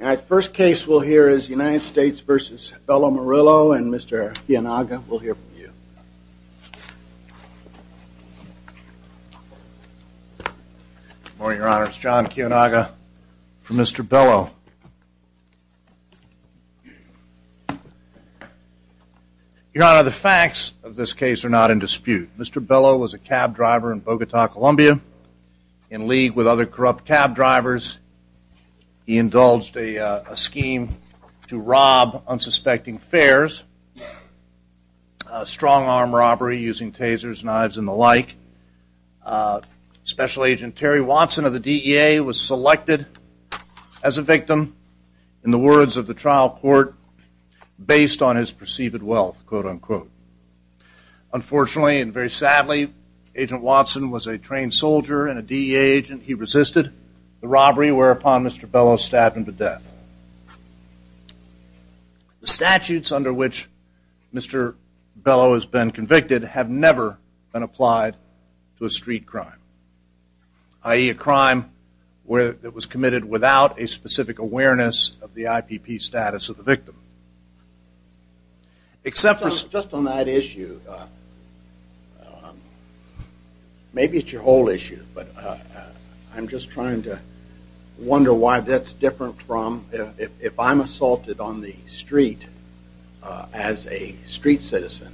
All right, first case we'll hear is United States v. Bello Murillo and Mr. Kiyonaga we'll hear from you. Good morning, Your Honor. It's John Kiyonaga for Mr. Bello. Your Honor, the facts of this case are not in dispute. Mr. Bello was a cab driver in Bogota, Colombia, in league with other corrupt cab drivers. He indulged a scheme to rob unsuspecting fares, strong-arm robbery using tasers, knives, and the like. Special Agent Terry Watson of the DEA was selected as a victim in the words of the trial court, based on his perceived wealth, quote unquote. Unfortunately and very sadly, Agent Watson was a trained soldier and a DEA agent. He resisted the robbery whereupon Mr. Bello stabbed him to death. The statutes under which Mr. Bello has been convicted have never been applied to a street crime, i.e. a crime where it was committed without a specific awareness of the IPP status of the victim. Except for just on that issue, maybe it's your whole issue, but I'm just trying to wonder why that's different from if I'm assaulted on the street as a street citizen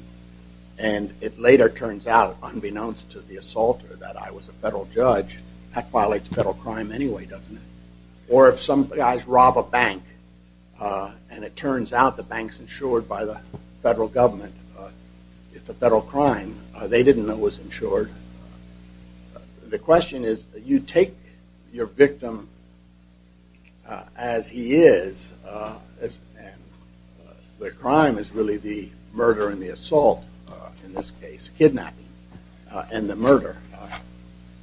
and it later turns out, unbeknownst to the assaulter, that I was a federal judge, that violates federal crime anyway doesn't it? Or if some guys rob a bank and it turns out the bank's insured by the federal government, it's a federal crime, they didn't know it was insured. The question is, you take your victim as he is and the crime is really the murder and the assault in this case, kidnapping and the murder.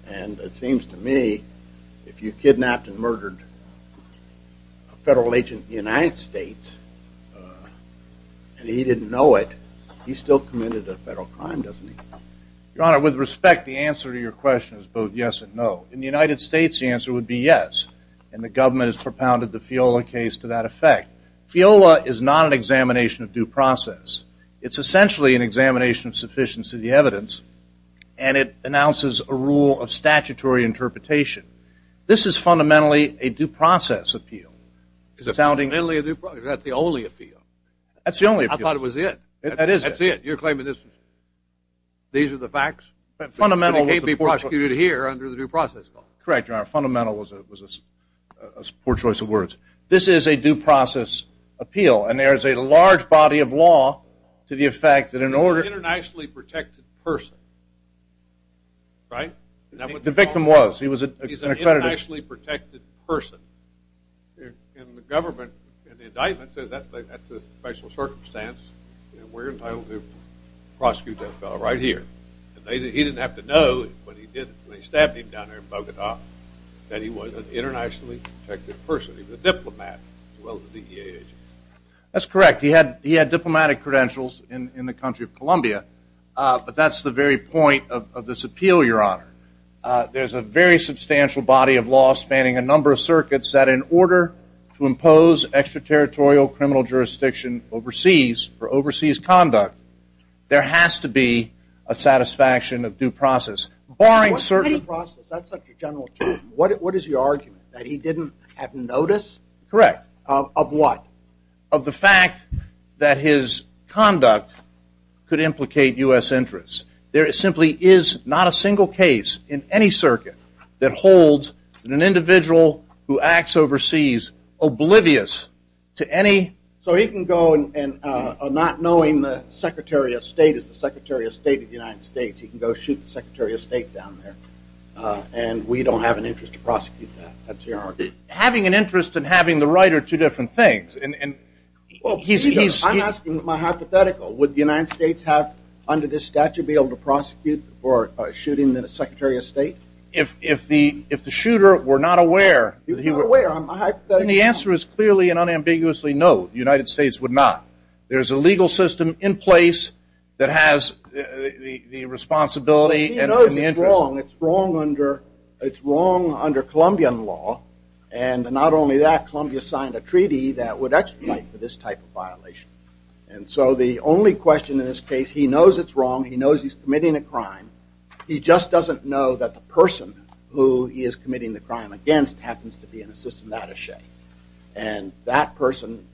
And it seems to me, if you kidnapped and murdered a federal agent in the United States and he didn't know it, he still committed a federal crime, doesn't he? Your Honor, with respect, the answer to your question is both yes and no. In the United States, the answer would be yes and the government has propounded the FIOLA case to that effect. FIOLA is not an examination of due process. It's essentially an examination of sufficiency of the evidence and it announces a rule of statutory interpretation. This is fundamentally a due process. That's the only appeal. That's the only appeal. I thought it was it. That is it. That's it. You're claiming this is it. These are the facts? Fundamentally, it can't be prosecuted here under the due process law. Correct, Your Honor. Fundamentally, it was a poor choice of words. This is a due process appeal and there is a large body of law to the effect that in order- An internationally protected person. Right? The victim was. He was an accredited- And the government, in the indictment, says that's a special circumstance and we're entitled to prosecute that fellow right here. And he didn't have to know when he stabbed him down there in Bogota that he was an internationally protected person. He was a diplomat as well as a DEA agent. That's correct. He had diplomatic credentials in the country of Colombia, but that's the very point of this appeal, Your Honor. There's a very substantial body of law spanning a number of circuits that in order to impose extraterritorial criminal jurisdiction overseas for overseas conduct, there has to be a satisfaction of due process. Barring- What's a due process? That's such a general term. What is your argument? That he didn't have notice? Correct. Of what? Of the fact that his conduct could implicate U.S. interests. There simply is not a single case in any circuit that holds an individual who acts overseas oblivious to any- So he can go and not knowing the Secretary of State is the Secretary of State of the United States, he can go shoot the Secretary of State down there and we don't have an interest to prosecute that. That's your argument? Having an interest and having the right are two different things. And he's- I'm asking my hypothetical. Would the United States have, under this statute, be able to prosecute for shooting the Secretary of State? If the shooter were not aware- He was not aware. I'm a hypothetical. Then the answer is clearly and unambiguously no. The United States would not. There's a legal system in place that has the responsibility and the interest- He knows it's wrong. It's wrong under Colombian law. And not only that, Colombia signed a treaty that would expedite this type of violation. And so the only question in this case, he knows it's wrong. He knows he's committing a crime. He just doesn't know that the person who he is committing the crime against happens to be an assistant attache. And that person-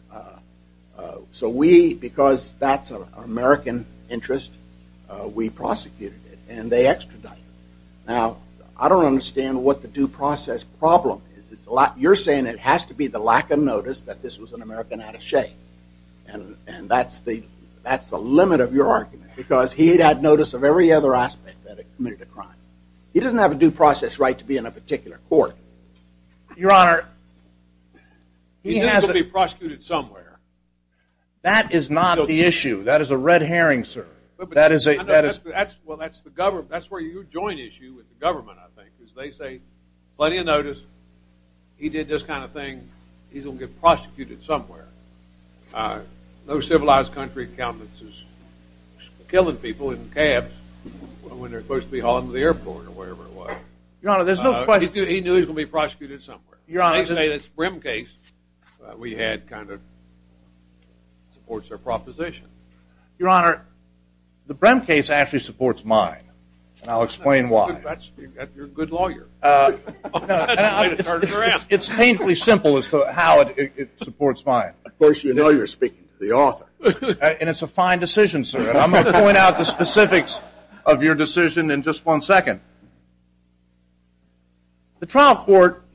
So we, because that's an American interest, we prosecuted it and they extradited. Now, I don't understand what the due process problem is. It's a lot- You're saying it has to be the lack of notice that this was an American attache. And that's the limit of your argument, because he'd had notice of every other aspect that it committed a crime. He doesn't have a due process right to be in a particular court. Your Honor, he has- He has to be prosecuted somewhere. That is not the issue. That is a red herring, sir. That is a- Well, that's the government. That's where you join issue with the government, I think, is they say, plenty of notice, he did this kind of thing, he's going to get prosecuted somewhere. No civilized country accountants is killing people in cabs when they're supposed to be hauling to the airport or wherever it was. Your Honor, there's no question- He knew he was going to be prosecuted somewhere. Your Honor- They say this Brehm case we had kind of supports their proposition. Your Honor, the Brehm case actually supports mine, and I'll explain why. You're a good lawyer. It's painfully simple as to how it supports mine. Of course, you know you're speaking to the author. And it's a fine decision, sir, and I'm going to point out the specifics of your decision in just one second. The trial court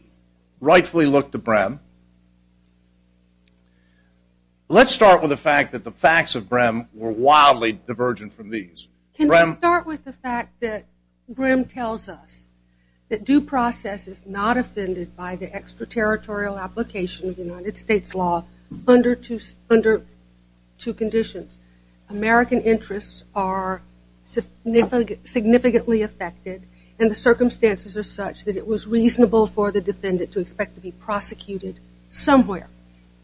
rightfully looked to Brehm. Let's start with the fact that the facts of Brehm were wildly divergent from these. Can we start with the fact that Brehm tells us that due process is not offended by the extraterritorial application of United States law under two conditions. American interests are significantly affected, and the circumstances are such that it was reasonable for the defendant to expect to be prosecuted somewhere.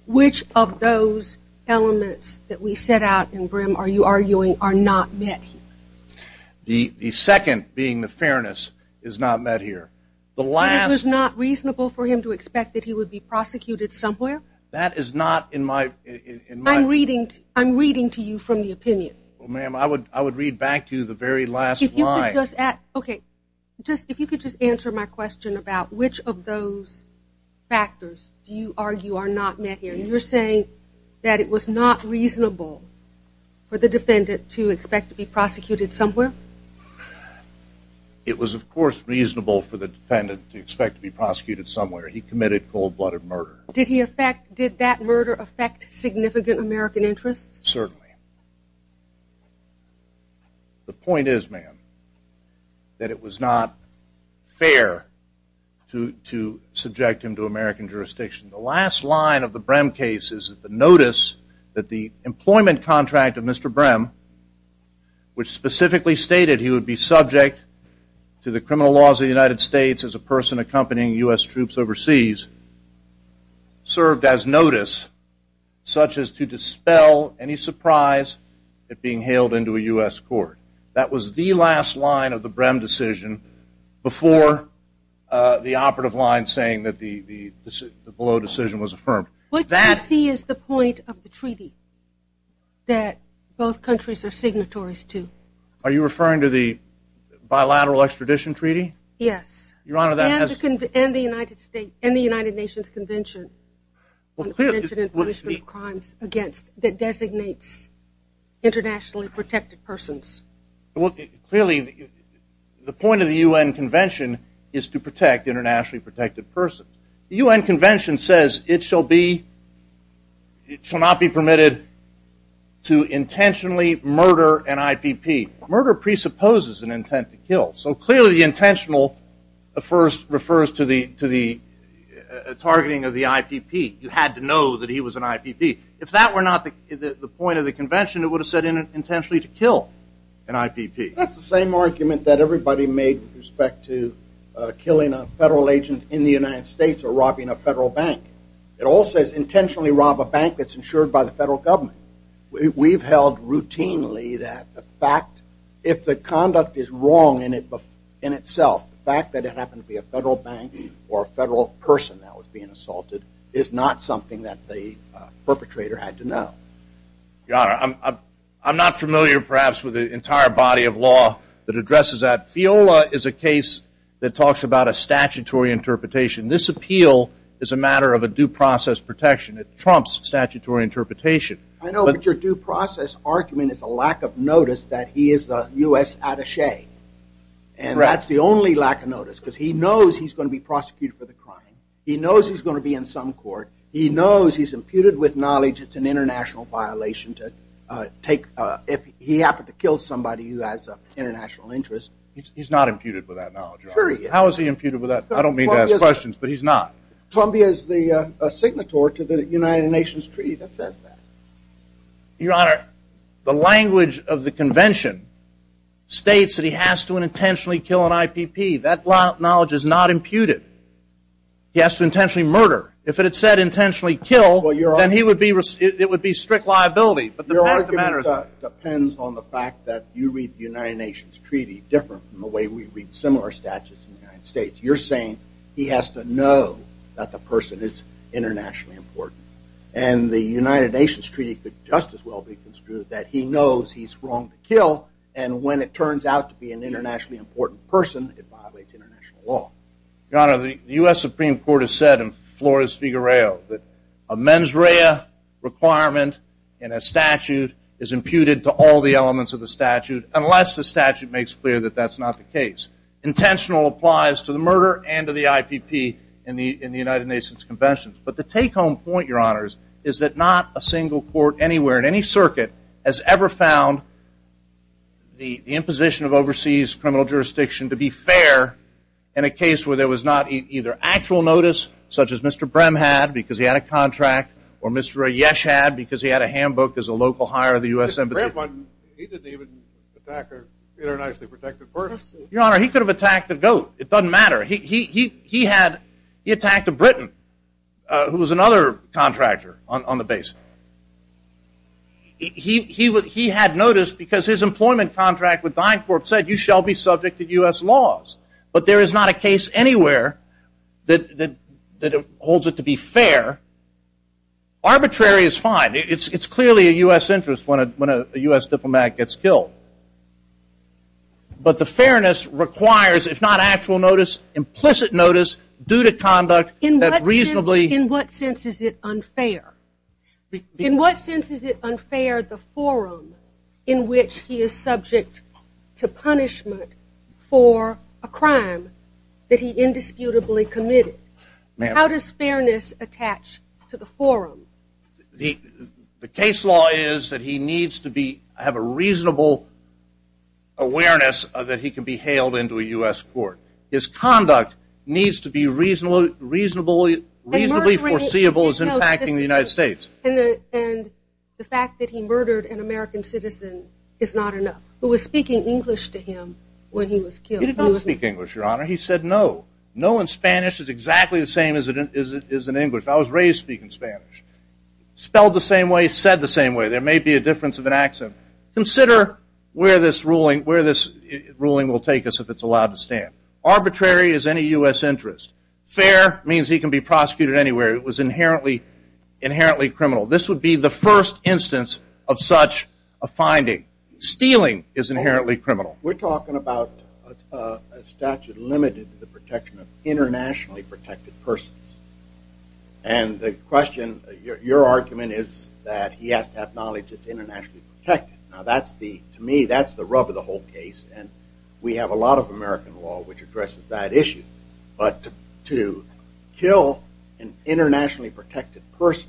Which of those elements that we set out in Brehm, are you arguing, are not met here? The second, being the fairness, is not met here. The last- It was not reasonable for him to expect that he would be prosecuted somewhere? That is not in my- I'm reading to you from the opinion. Well, ma'am, I would read back to you the very last line. Okay, if you could just answer my question about which of those factors do you believe? It was not reasonable for the defendant to expect to be prosecuted somewhere? It was, of course, reasonable for the defendant to expect to be prosecuted somewhere. He committed cold-blooded murder. Did that murder affect significant American interests? Certainly. The point is, ma'am, that it was not fair to subject him to American jurisdiction. The last line of the Brehm case is the notice that the employment contract of Mr. Brehm, which specifically stated he would be subject to the criminal laws of the United States as a person accompanying U.S. troops overseas, served as notice such as to dispel any surprise at being hailed into a U.S. court. That was the last line of the Brehm decision before the operative line saying that the below decision was affirmed. What do you see as the point of the treaty that both countries are signatories to? Are you referring to the bilateral extradition treaty? Yes. Your Honor, that has- And the United States- and the United Nations Convention on the Prevention and Punishment of Crimes Against- that designates internationally protected persons. Well, clearly, the point of the U.N. Convention is to protect internationally protected persons. The U.N. Convention says it shall not be permitted to intentionally murder an IPP. Murder presupposes an intent to kill. So clearly, intentional first refers to the targeting of the IPP. You had to know that he was an IPP. If that were not the point of the convention, it would have said intentionally to kill an IPP. That's the same argument that everybody made with respect to killing a federal agent in the United States or robbing a federal bank. It all says intentionally rob a bank that's insured by the federal government. We've held routinely that the fact- if the conduct is wrong in itself, the fact that it happened to be a federal bank or a federal person that was being assaulted is not something that the perpetrator had to know. Your Honor, I'm not familiar, perhaps, with the entire body of law that addresses that. FIOLA is a case that talks about a statutory interpretation. This appeal is a matter of a due process protection. It trumps statutory interpretation. I know, but your due process argument is a lack of notice that he is a U.S. attache, and that's the only lack of notice because he knows he's going to be prosecuted for the crime. He knows he's going to be in some court. He knows he's imputed with knowledge it's an international violation to take- if he happened to kill somebody who has an international interest. He's not imputed with that knowledge. How is he imputed with that? I don't mean to ask questions, but he's not. Columbia is the signatory to the United Nations Treaty that says that. Your Honor, the language of the convention states that he has to intentionally kill an IPP. That knowledge is not imputed. He has to intentionally murder. If it said intentionally kill, then he would be- it would be strict liability, but the matter is- Depends on the fact that you read the United Nations Treaty different from the way we read similar statutes in the United States. You're saying he has to know that the person is internationally important, and the United Nations Treaty could just as well be construed that he knows he's wrong to kill, and when it turns out to be an internationally important person, it violates international law. Your Honor, the U.S. Supreme Court has said in Flores-Figuereo that a mens rea requirement in a statute is imputed to all the elements of the statute unless the statute makes clear that that's not the case. Intentional applies to the murder and to the IPP in the United Nations Convention, but the take-home point, Your Honors, is that not a single court anywhere in any circuit has ever found the imposition of overseas criminal jurisdiction to be fair in a case where there was not either actual notice, such as Mr. Brehm had because he had a contract, or Mr. Ayesh had because he had a handbook as a local hire of the U.S. Embassy. Brehm didn't even attack an internationally protected person. Your Honor, he could have attacked a goat. It doesn't matter. He had- he attacked a Briton who was another contractor on the base. He had notice because his employment contract with DynCorp said you shall be subject to U.S. laws, but there is not a case anywhere that holds it to be fair. Arbitrary is fine. It's clearly a U.S. interest when a U.S. diplomat gets killed, but the fairness requires, if not actual notice, implicit notice due to conduct that reasonably- In what sense is it unfair? In what sense is it unfair the forum in which he is subject to punishment for a crime that he indisputably committed? How does fairness attach to the forum? The case law is that he needs to be- have a reasonable awareness that he can be reasonably foreseeable as impacting the United States. And the fact that he murdered an American citizen is not enough. Who was speaking English to him when he was killed. He did not speak English, Your Honor. He said no. No in Spanish is exactly the same as it is in English. I was raised speaking Spanish. Spelled the same way, said the same way. There may be a difference of an accent. Consider where this ruling- where this ruling will take us if it's allowed to stand. Arbitrary is any U.S. interest. Fair means he can be prosecuted anywhere. It was inherently criminal. This would be the first instance of such a finding. Stealing is inherently criminal. We're talking about a statute limited to the protection of internationally protected persons. And the question- your argument is that he has to acknowledge it's internationally protected. Now that's the- to me that's the rub of the whole case. And we have a lot of American law which addresses that issue. But to kill an internationally protected person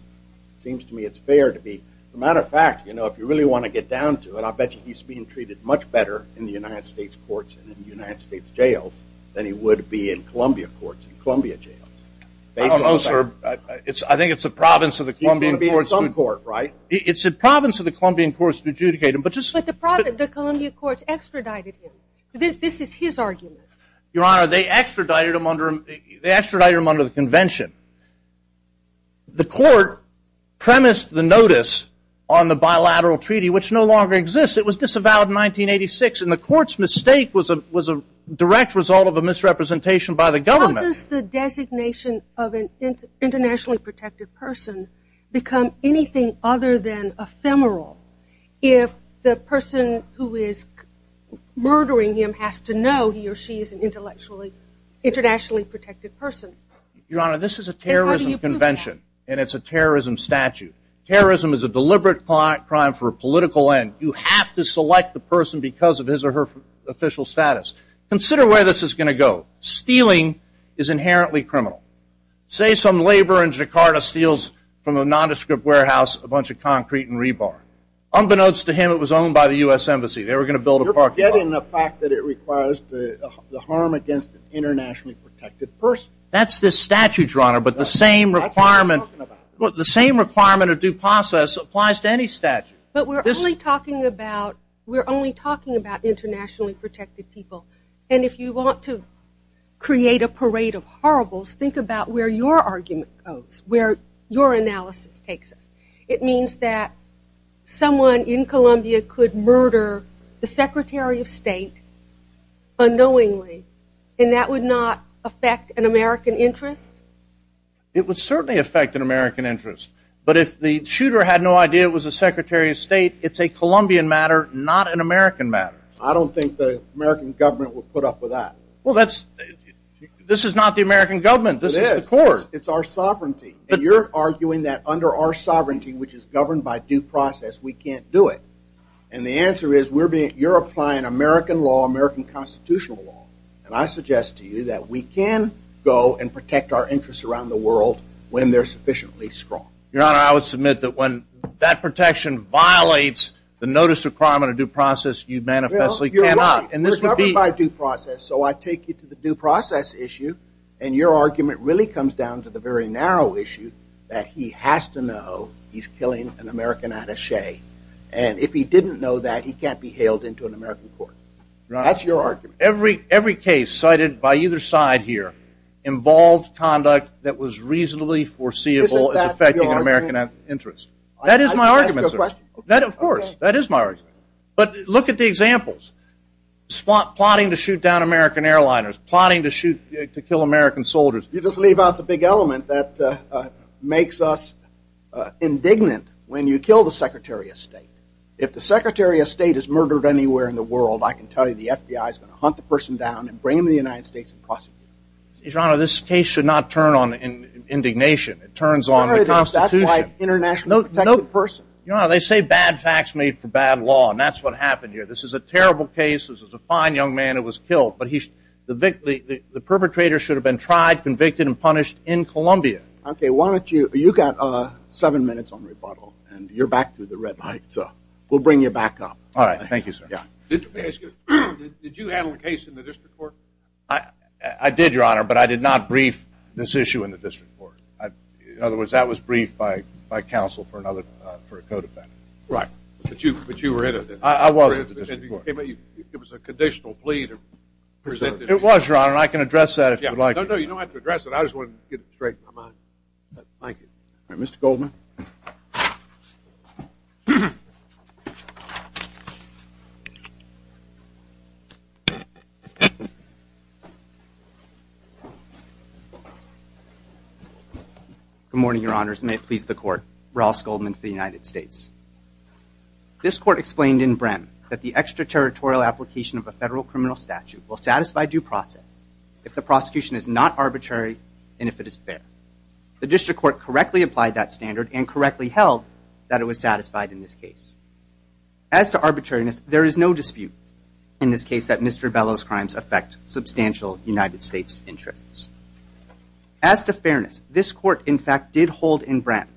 seems to me it's fair to be- as a matter of fact, you know, if you really want to get down to it, I'll bet he's being treated much better in the United States courts and in the United States jails than he would be in Columbia courts and Columbia jails. I don't know, sir. I think it's the province of the Columbia courts. It's the province of the Columbia courts to adjudicate him. But just- But the Columbia courts extradited him. This is his argument. Your honor, they extradited him under- they extradited him under the convention. The court premised the notice on the bilateral treaty which no longer exists. It was disavowed in 1986 and the court's mistake was a direct result of a misrepresentation by the government. Does the designation of an internationally protected person become anything other than ephemeral if the person who is murdering him has to know he or she is an intellectually- internationally protected person? Your honor, this is a terrorism convention and it's a terrorism statute. Terrorism is a deliberate crime for a political end. You have to select the person because of his or her official status. Consider where this is going to go. Stealing is inherently criminal. Say some laborer in Jakarta steals from a nondescript warehouse a bunch of concrete and rebar. Unbeknownst to him, it was owned by the U.S. Embassy. They were going to build a parking lot. You're forgetting the fact that it requires the harm against an internationally protected person. That's this statute, your honor, but the same requirement- That's what we're talking about. The same requirement of due process applies to any statute. But we're only talking about- we're only talking about internationally protected people. If you want to create a parade of horribles, think about where your argument goes, where your analysis takes us. It means that someone in Columbia could murder the Secretary of State unknowingly and that would not affect an American interest? It would certainly affect an American interest. But if the shooter had no idea it was the Secretary of State, it's a Colombian matter, not an American matter. I don't think the American government would put up with that. Well, that's- this is not the American government. This is the court. It's our sovereignty. And you're arguing that under our sovereignty, which is governed by due process, we can't do it. And the answer is we're being- you're applying American law, American constitutional law, and I suggest to you that we can go and protect our interests around the world when they're sufficiently strong. Your honor, I would submit that when that protection violates the notice of crime and due process, you manifestly cannot. Well, you're right. And this would be- We're governed by due process, so I take you to the due process issue and your argument really comes down to the very narrow issue that he has to know he's killing an American attache. And if he didn't know that, he can't be hailed into an American court. That's your argument. Every case cited by either side here involved conduct that was reasonably foreseeable as affecting an American interest. Isn't that your argument? That is my argument, sir. That is your question? But look at the examples. Plotting to shoot down American airliners. Plotting to shoot- to kill American soldiers. You just leave out the big element that makes us indignant when you kill the Secretary of State. If the Secretary of State is murdered anywhere in the world, I can tell you the FBI is going to hunt the person down and bring him to the United States and prosecute him. Your honor, this case should not turn on indignation. It turns on the Constitution. Your honor, that's why that's what happened here. This is a terrible case. This is a fine young man who was killed. The perpetrator should have been tried, convicted, and punished in Columbia. Okay. Why don't you- you've got seven minutes on rebuttal and you're back to the red light. We'll bring you back up. All right. Thank you, sir. Did you handle a case in the district court? I did, your honor, but I did not brief this issue in the district court. In other words, that was briefed by counsel for a co-defendant. Right. But you were in it. I was. It was a conditional plea to present- It was, your honor. I can address that if you'd like. No, no. You don't have to address it. I just wanted to get it straight in my mind. Thank you. All right. Mr. Goldman. Good morning, your honors. May it please the court. Ross Goldman for the United States. This court explained in Brehm that the extraterritorial application of a federal criminal statute will satisfy due process if the prosecution is not arbitrary and if it is fair. The district court correctly applied that standard and correctly held that it was satisfied in this case. As to arbitrariness, there is no dispute in this case that Mr. Bellow's crimes affect substantial United States interests. As to fairness, this court, in fact, did hold in Brehm.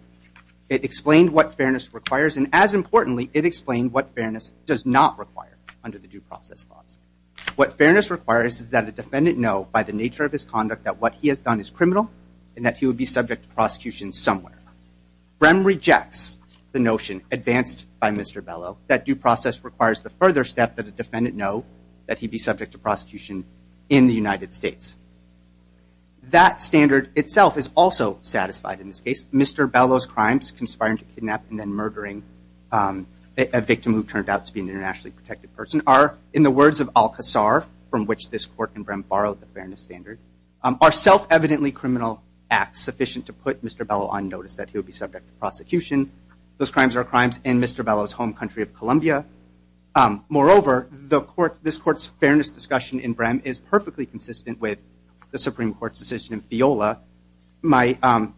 It explained what fairness requires, and as importantly, it explained what fairness does not require under the due process clause. What fairness requires is that a defendant know by the nature of his conduct that what he has done is criminal and that he would be subject to prosecution somewhere. Brehm rejects the notion advanced by Mr. Bellow that due process requires the further step that a defendant know that he'd be subject to prosecution in the United States. That standard itself is also satisfied in this case. Mr. Bellow's crimes, conspiring to kidnap and then murdering a victim who turned out to be an internationally protected person are, in the words of Al-Qasar, from which this court in Brehm borrowed the fairness standard, are self-evidently criminal acts sufficient to put Mr. Bellow on notice that he would be subject to prosecution. Those crimes are crimes in Mr. Bellow's home country of Colombia. Moreover, this court's fairness discussion in Brehm is perfectly consistent with the Supreme Court's decision in FIOLA. My friend,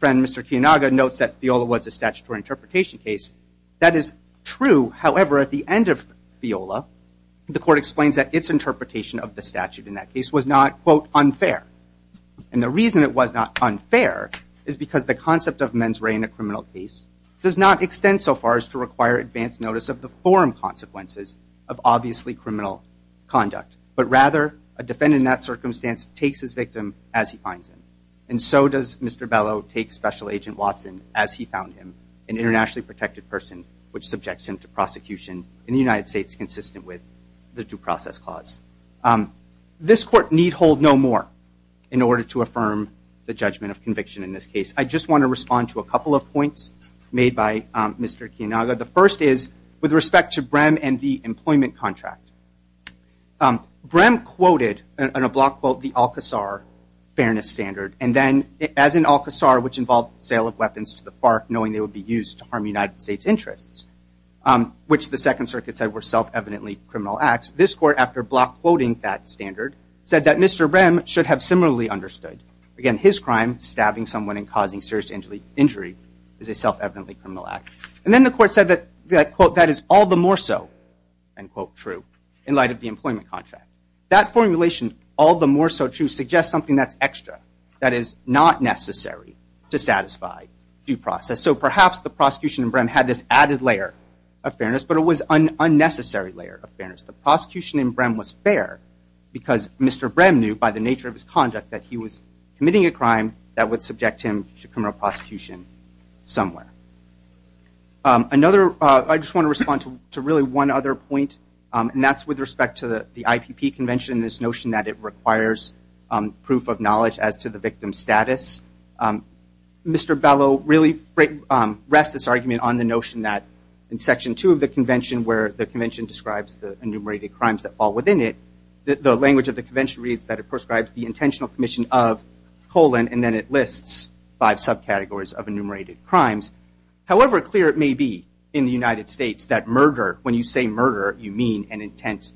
Mr. Kiyonaga, notes that FIOLA was a statutory interpretation case. That is true. However, at the end of FIOLA, the court explains that its interpretation of the statute in that case was not, quote, unfair. And the reason it was not unfair is because the concept of mens re in a criminal case does not extend so far as to require advanced notice of foreign consequences of obviously criminal conduct. But rather, a defendant in that circumstance takes his victim as he finds him. And so does Mr. Bellow take Special Agent Watson as he found him, an internationally protected person which subjects him to prosecution in the United States consistent with the due process clause. This court need hold no more in order to affirm the judgment of conviction in this case. I just want to respond to a couple of points made by Mr. Kiyonaga. The first is with respect to Brehm and the employment contract. Brehm quoted, in a block quote, the Alcazar fairness standard. And then, as in Alcazar, which involved the sale of weapons to the FARC knowing they would be used to harm United States interests, which the Second Circuit said were self-evidently criminal acts, this court, after block quoting that standard, said that Mr. Brehm should have similarly understood. Again, his crime, stabbing someone and causing serious injury, is a self-evidently criminal act. And then the court said that, quote, that is all the more so, end quote, true in light of the employment contract. That formulation, all the more so true, suggests something that's extra, that is not necessary to satisfy due process. So perhaps the prosecution in Brehm had this added layer of fairness, but it was an unnecessary layer of fairness. The prosecution in Brehm was that he was committing a crime that would subject him to criminal prosecution somewhere. Another, I just want to respond to really one other point, and that's with respect to the IPP Convention and this notion that it requires proof of knowledge as to the victim's status. Mr. Bellow really rests this argument on the notion that in Section 2 of the Convention, where the Convention describes the enumerated crimes that fall within it, the language of intentional commission of, colon, and then it lists five subcategories of enumerated crimes. However clear it may be in the United States that murder, when you say murder, you mean an intent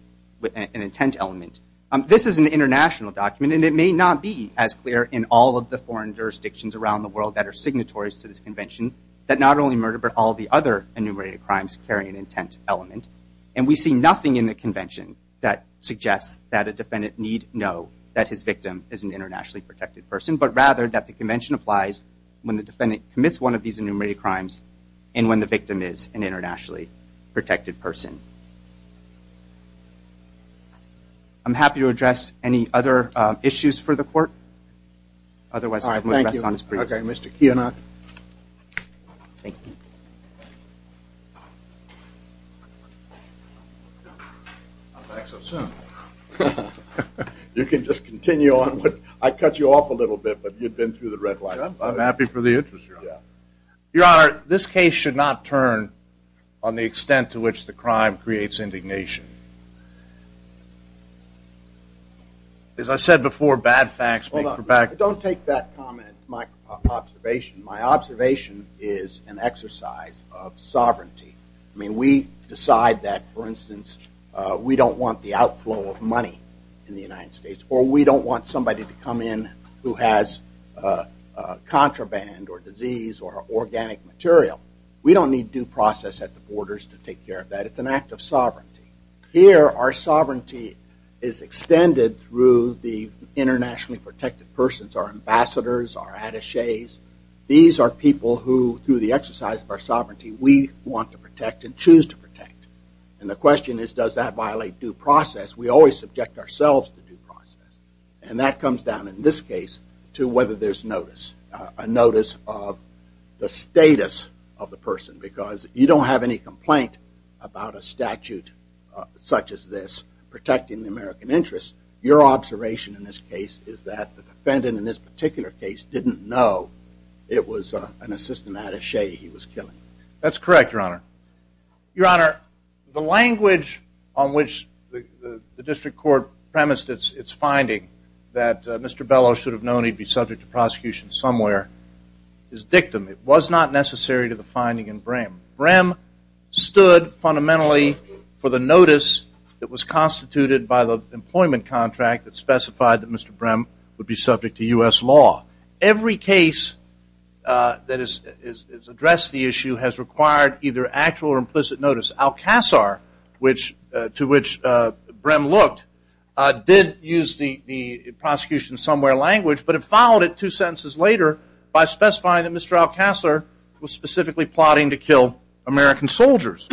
element. This is an international document, and it may not be as clear in all of the foreign jurisdictions around the world that are signatories to this Convention that not only murder, but all the other enumerated crimes carry an intent element. And we see nothing in the Convention that suggests that a defendant need know that his victim is an internationally protected person, but rather that the Convention applies when the defendant commits one of these enumerated crimes and when the victim is an internationally protected person. I'm happy to address any other issues for the Court. Otherwise, I'm going to rest on this brief. Mr. Kianak. Thank you. I'm back so soon. You can just continue on. I cut you off a little bit, but you've been through the red light. I'm happy for the interest. Your Honor, this case should not turn on the extent to which the crime creates indignation. As I said before, bad facts speak for bad... Hold on. Don't take that comment, my observation. My observation is an exercise of sovereignty. I mean, we decide that, for instance, we don't want the outflow of money in the United States, or we don't want somebody to come in who has contraband, or disease, or organic material. We don't need due process at the Here, our sovereignty is extended through the internationally protected persons, our ambassadors, our attachés. These are people who, through the exercise of our sovereignty, we want to protect and choose to protect. And the question is, does that violate due process? We always subject ourselves to due process. And that comes down, in this case, to whether there's notice, a notice of the status of the person. Because you don't have any complaint about a statute such as this protecting the American interest. Your observation in this case is that the defendant, in this particular case, didn't know it was an assistant attaché he was killing. That's correct, Your Honor. Your Honor, the language on which the district court premised its finding, that Mr. Bellow should have known he'd be subject to prosecution somewhere, is dictum. It was not necessary to the finding in Brehm. Brehm stood fundamentally for the notice that was constituted by the employment contract that specified that Mr. Brehm would be subject to U.S. law. Every case that has addressed the issue has required either actual or implicit notice. Al-Qasr, to which Brehm looked, did use the prosecution somewhere language, but it followed it two sentences later by specifying that Mr. Al-Qasr was specifically plotting to kill American soldiers.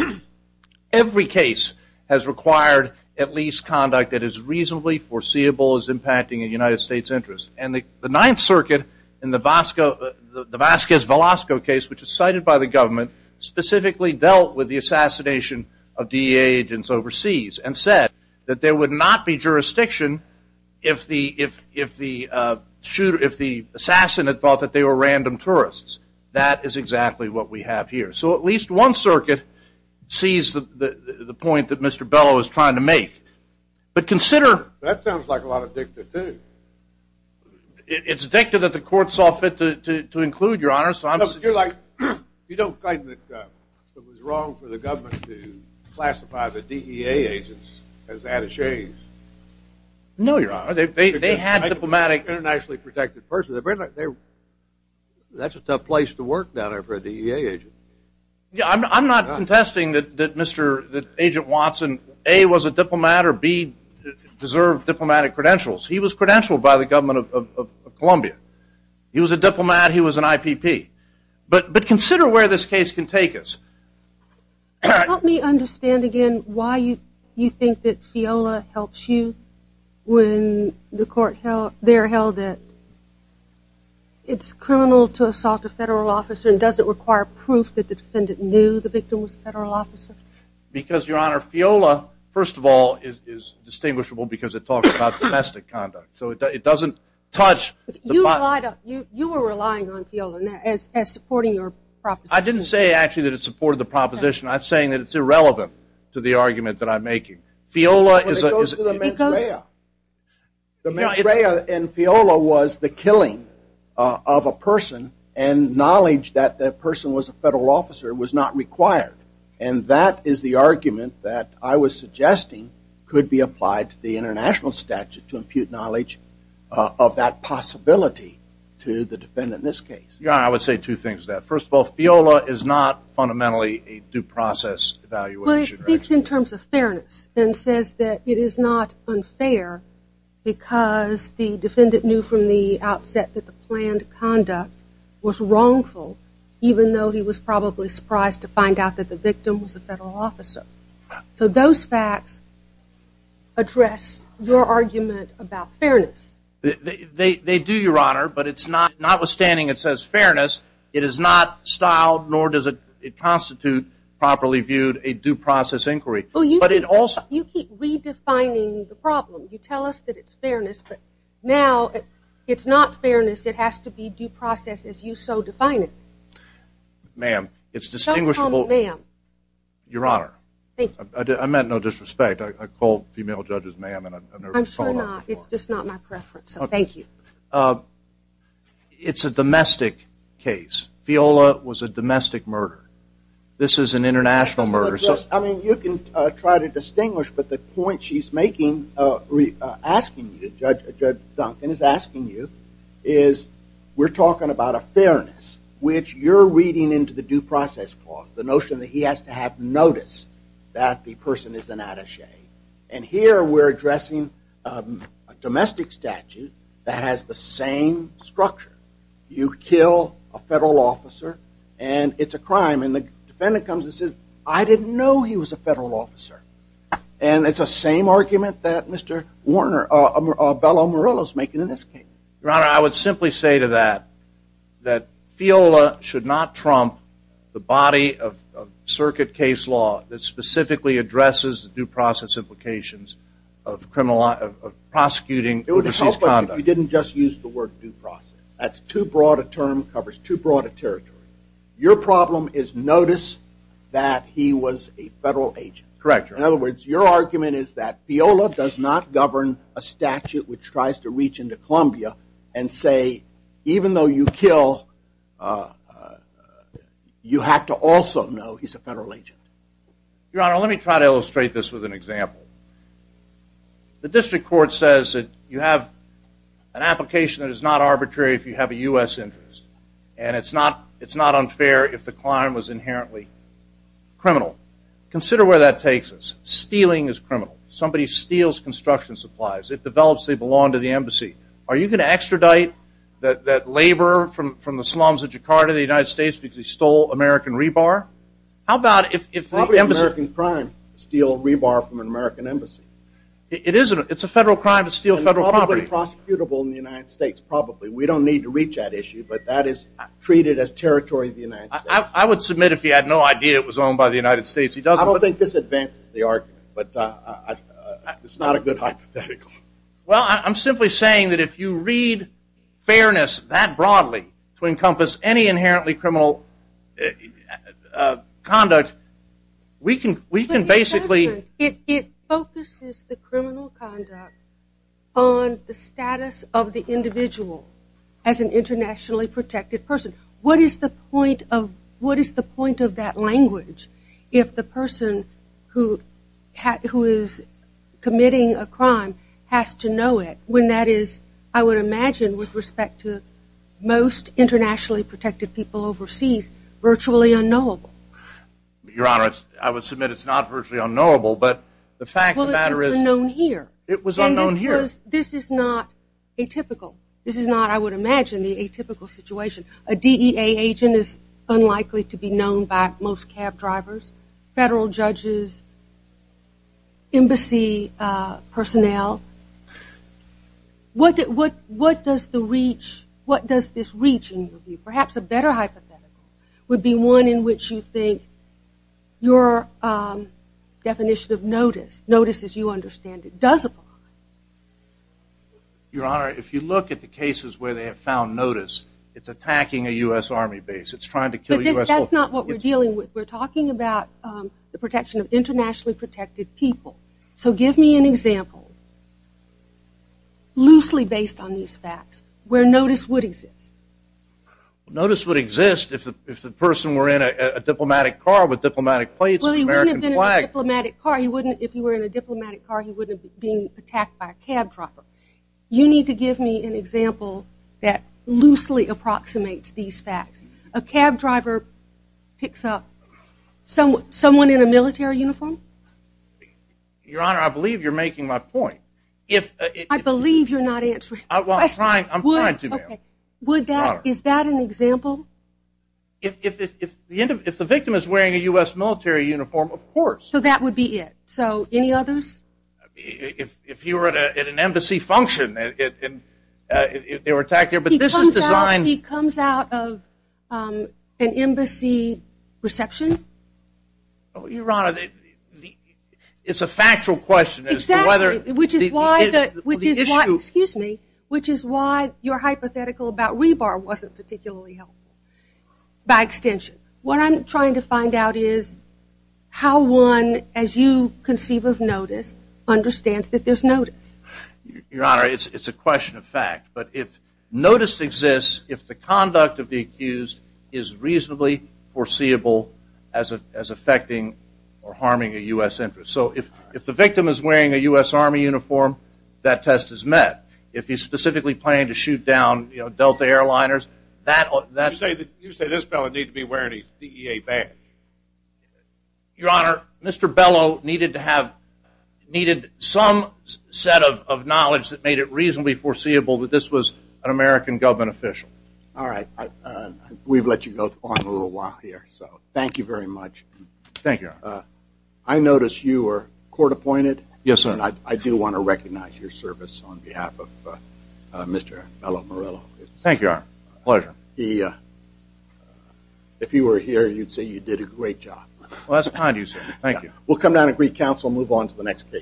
Every case has required at least conduct that is reasonably foreseeable as impacting a United States interest. And the Ninth Circuit in the Vasquez-Velasco case, which is cited by the agents overseas, and said that there would not be jurisdiction if the shooter, if the assassin, had thought that they were random tourists. That is exactly what we have here. So at least one circuit sees the point that Mr. Bellow is trying to make. But consider... That sounds like a lot of dictum too. It's a dictum that the court saw fit to include, Your Honor, so I'm... You don't claim that it was wrong for the government to classify the DEA agents as attachés? No, Your Honor. They had a diplomatic, internationally protected person. That's a tough place to work down there for a DEA agent. Yeah, I'm not contesting that Mr., that Agent Watson, A, was a diplomat, or B, deserved diplomatic credentials. He was credentialed by the government of Columbia. He was a diplomat. He was an IPP. But consider where this case can take us. Help me understand again why you think that FIOLA helps you when the court held, there held that it's criminal to assault a federal officer and doesn't require proof that the defendant knew the victim was a federal officer? Because, Your Honor, FIOLA, first of all, is distinguishable because it talks about domestic conduct. So it doesn't touch... You relied on, you were relying on FIOLA as supporting your proposition. I didn't say actually that it supported the proposition. I'm saying that it's irrelevant to the argument that I'm making. FIOLA is... It goes to the mens rea. The mens rea and FIOLA was the killing of a person and knowledge that that person was a federal officer was not required. And that is the argument that I was suggesting could be applied to the international statute to impute knowledge of that possibility to the defendant in this case. Your Honor, I would say two things to that. First of all, FIOLA is not fundamentally a due process evaluation. Well, it speaks in terms of fairness and says that it is not unfair because the defendant knew from the outset that the planned conduct was wrongful even though he was probably surprised to find out that the victim was a federal officer. So those facts address your argument about fairness. They do, Your Honor, but it's not... Notwithstanding it says fairness, it is not styled nor does it constitute properly viewed a due process inquiry. But it also... You keep redefining the problem. You tell us that it's fairness, but now it's not fairness. It has to be. Your Honor, I meant no disrespect. I called female judges ma'am. I'm sure not. It's just not my preference. So thank you. It's a domestic case. FIOLA was a domestic murder. This is an international murder. I mean, you can try to distinguish, but the point she's making, asking you, Judge Duncan is asking you, is we're talking about a fairness which you're reading into the due process clause. The notion that he has to have notice that the person is an attaché. And here we're addressing a domestic statute that has the same structure. You kill a federal officer and it's a crime and the defendant comes and says, I didn't know he was a federal officer. And it's the same argument that Mr. Warner, Bello Morillo is making in this case. Your Honor, I would simply say to that, that FIOLA should not trump the body of circuit case law that specifically addresses the due process implications of prosecuting overseas conduct. You didn't just use the word due process. That's too broad a term, covers too broad a territory. Your problem is notice that he was a federal agent. In other words, your argument is that FIOLA does not govern a statute which tries to reach into Columbia and say, even though you kill, you have to also know he's a federal agent. Your Honor, let me try to illustrate this with an example. The district court says that you have an application that is not arbitrary if you have a U.S. interest. And it's not unfair if the client was inherently criminal. Consider where that takes us. Stealing is criminal. Somebody steals construction supplies. It develops they belong to the embassy. Are you going to extradite that laborer from the slums of Jakarta, the United States, because he stole American rebar? How about if the embassy- Probably an American crime, steal rebar from an American embassy. It's a federal crime to steal federal property. And probably prosecutable in the United States, probably. We don't need to reach that issue, but that is treated as territory of the United States. I would submit if he had no idea it was the United States- I don't think this advances the argument, but it's not a good hypothetical. Well, I'm simply saying that if you read fairness that broadly to encompass any inherently criminal conduct, we can basically- It focuses the criminal conduct on the status of the individual as an internationally protected person. What is the point of that language if the person who is committing a crime has to know it when that is, I would imagine with respect to most internationally protected people overseas, virtually unknowable. Your Honor, I would submit it's not virtually unknowable, but the fact of the matter is- Well, it was unknown here. It was unknown here. And this is not atypical. This is not, I would imagine, the atypical situation. A DEA agent is unlikely to be known by most cab drivers, federal judges, embassy personnel. What does this reach in your view? Perhaps a better hypothetical would be one in which you think your definition of notice, notice as you understand it, does apply. Your Honor, if you look at the cases where they have found notice, it's attacking a U.S. Army base. It's trying to kill U.S. soldiers. But that's not what we're dealing with. We're talking about the protection of internationally protected people. So give me an example loosely based on these facts where notice would exist. Notice would exist if the person were in a diplomatic car with diplomatic plates and American flag. Well, he wouldn't have attacked by a cab driver. You need to give me an example that loosely approximates these facts. A cab driver picks up someone in a military uniform. Your Honor, I believe you're making my point. I believe you're not answering. I'm trying to. Is that an example? If the victim is wearing a U.S. military uniform, of course. So that would be it. So any others? If you were at an embassy function, they were attacked there. But this is designed. He comes out of an embassy reception? Your Honor, it's a factual question. Exactly. Which is why your hypothetical about rebar wasn't particularly helpful, by extension. What I'm trying to find out is how one, as you conceive of notice, understands that there's notice. Your Honor, it's a question of fact. But if notice exists, if the conduct of the accused is reasonably foreseeable as affecting or harming a U.S. interest. So if the victim is wearing a U.S. Army uniform, that test is met. If he's specifically planning to shoot down Delta airliners, that... You say this fellow needs to be wearing a CEA badge. Your Honor, Mr. Bellow needed some set of knowledge that made it reasonably foreseeable that this was an American government official. All right. We've let you go on a little while here. So thank you very much. Thank you, Your Honor. I noticed you were court appointed. Yes, sir. And I do want to recognize your service on behalf of Mr. Bellow Morello. Thank you, sir. Pleasure. If you were here, you'd say you did a great job. Well, that's kind of you, sir. Thank you. We'll come down and greet counsel and move on to the next case.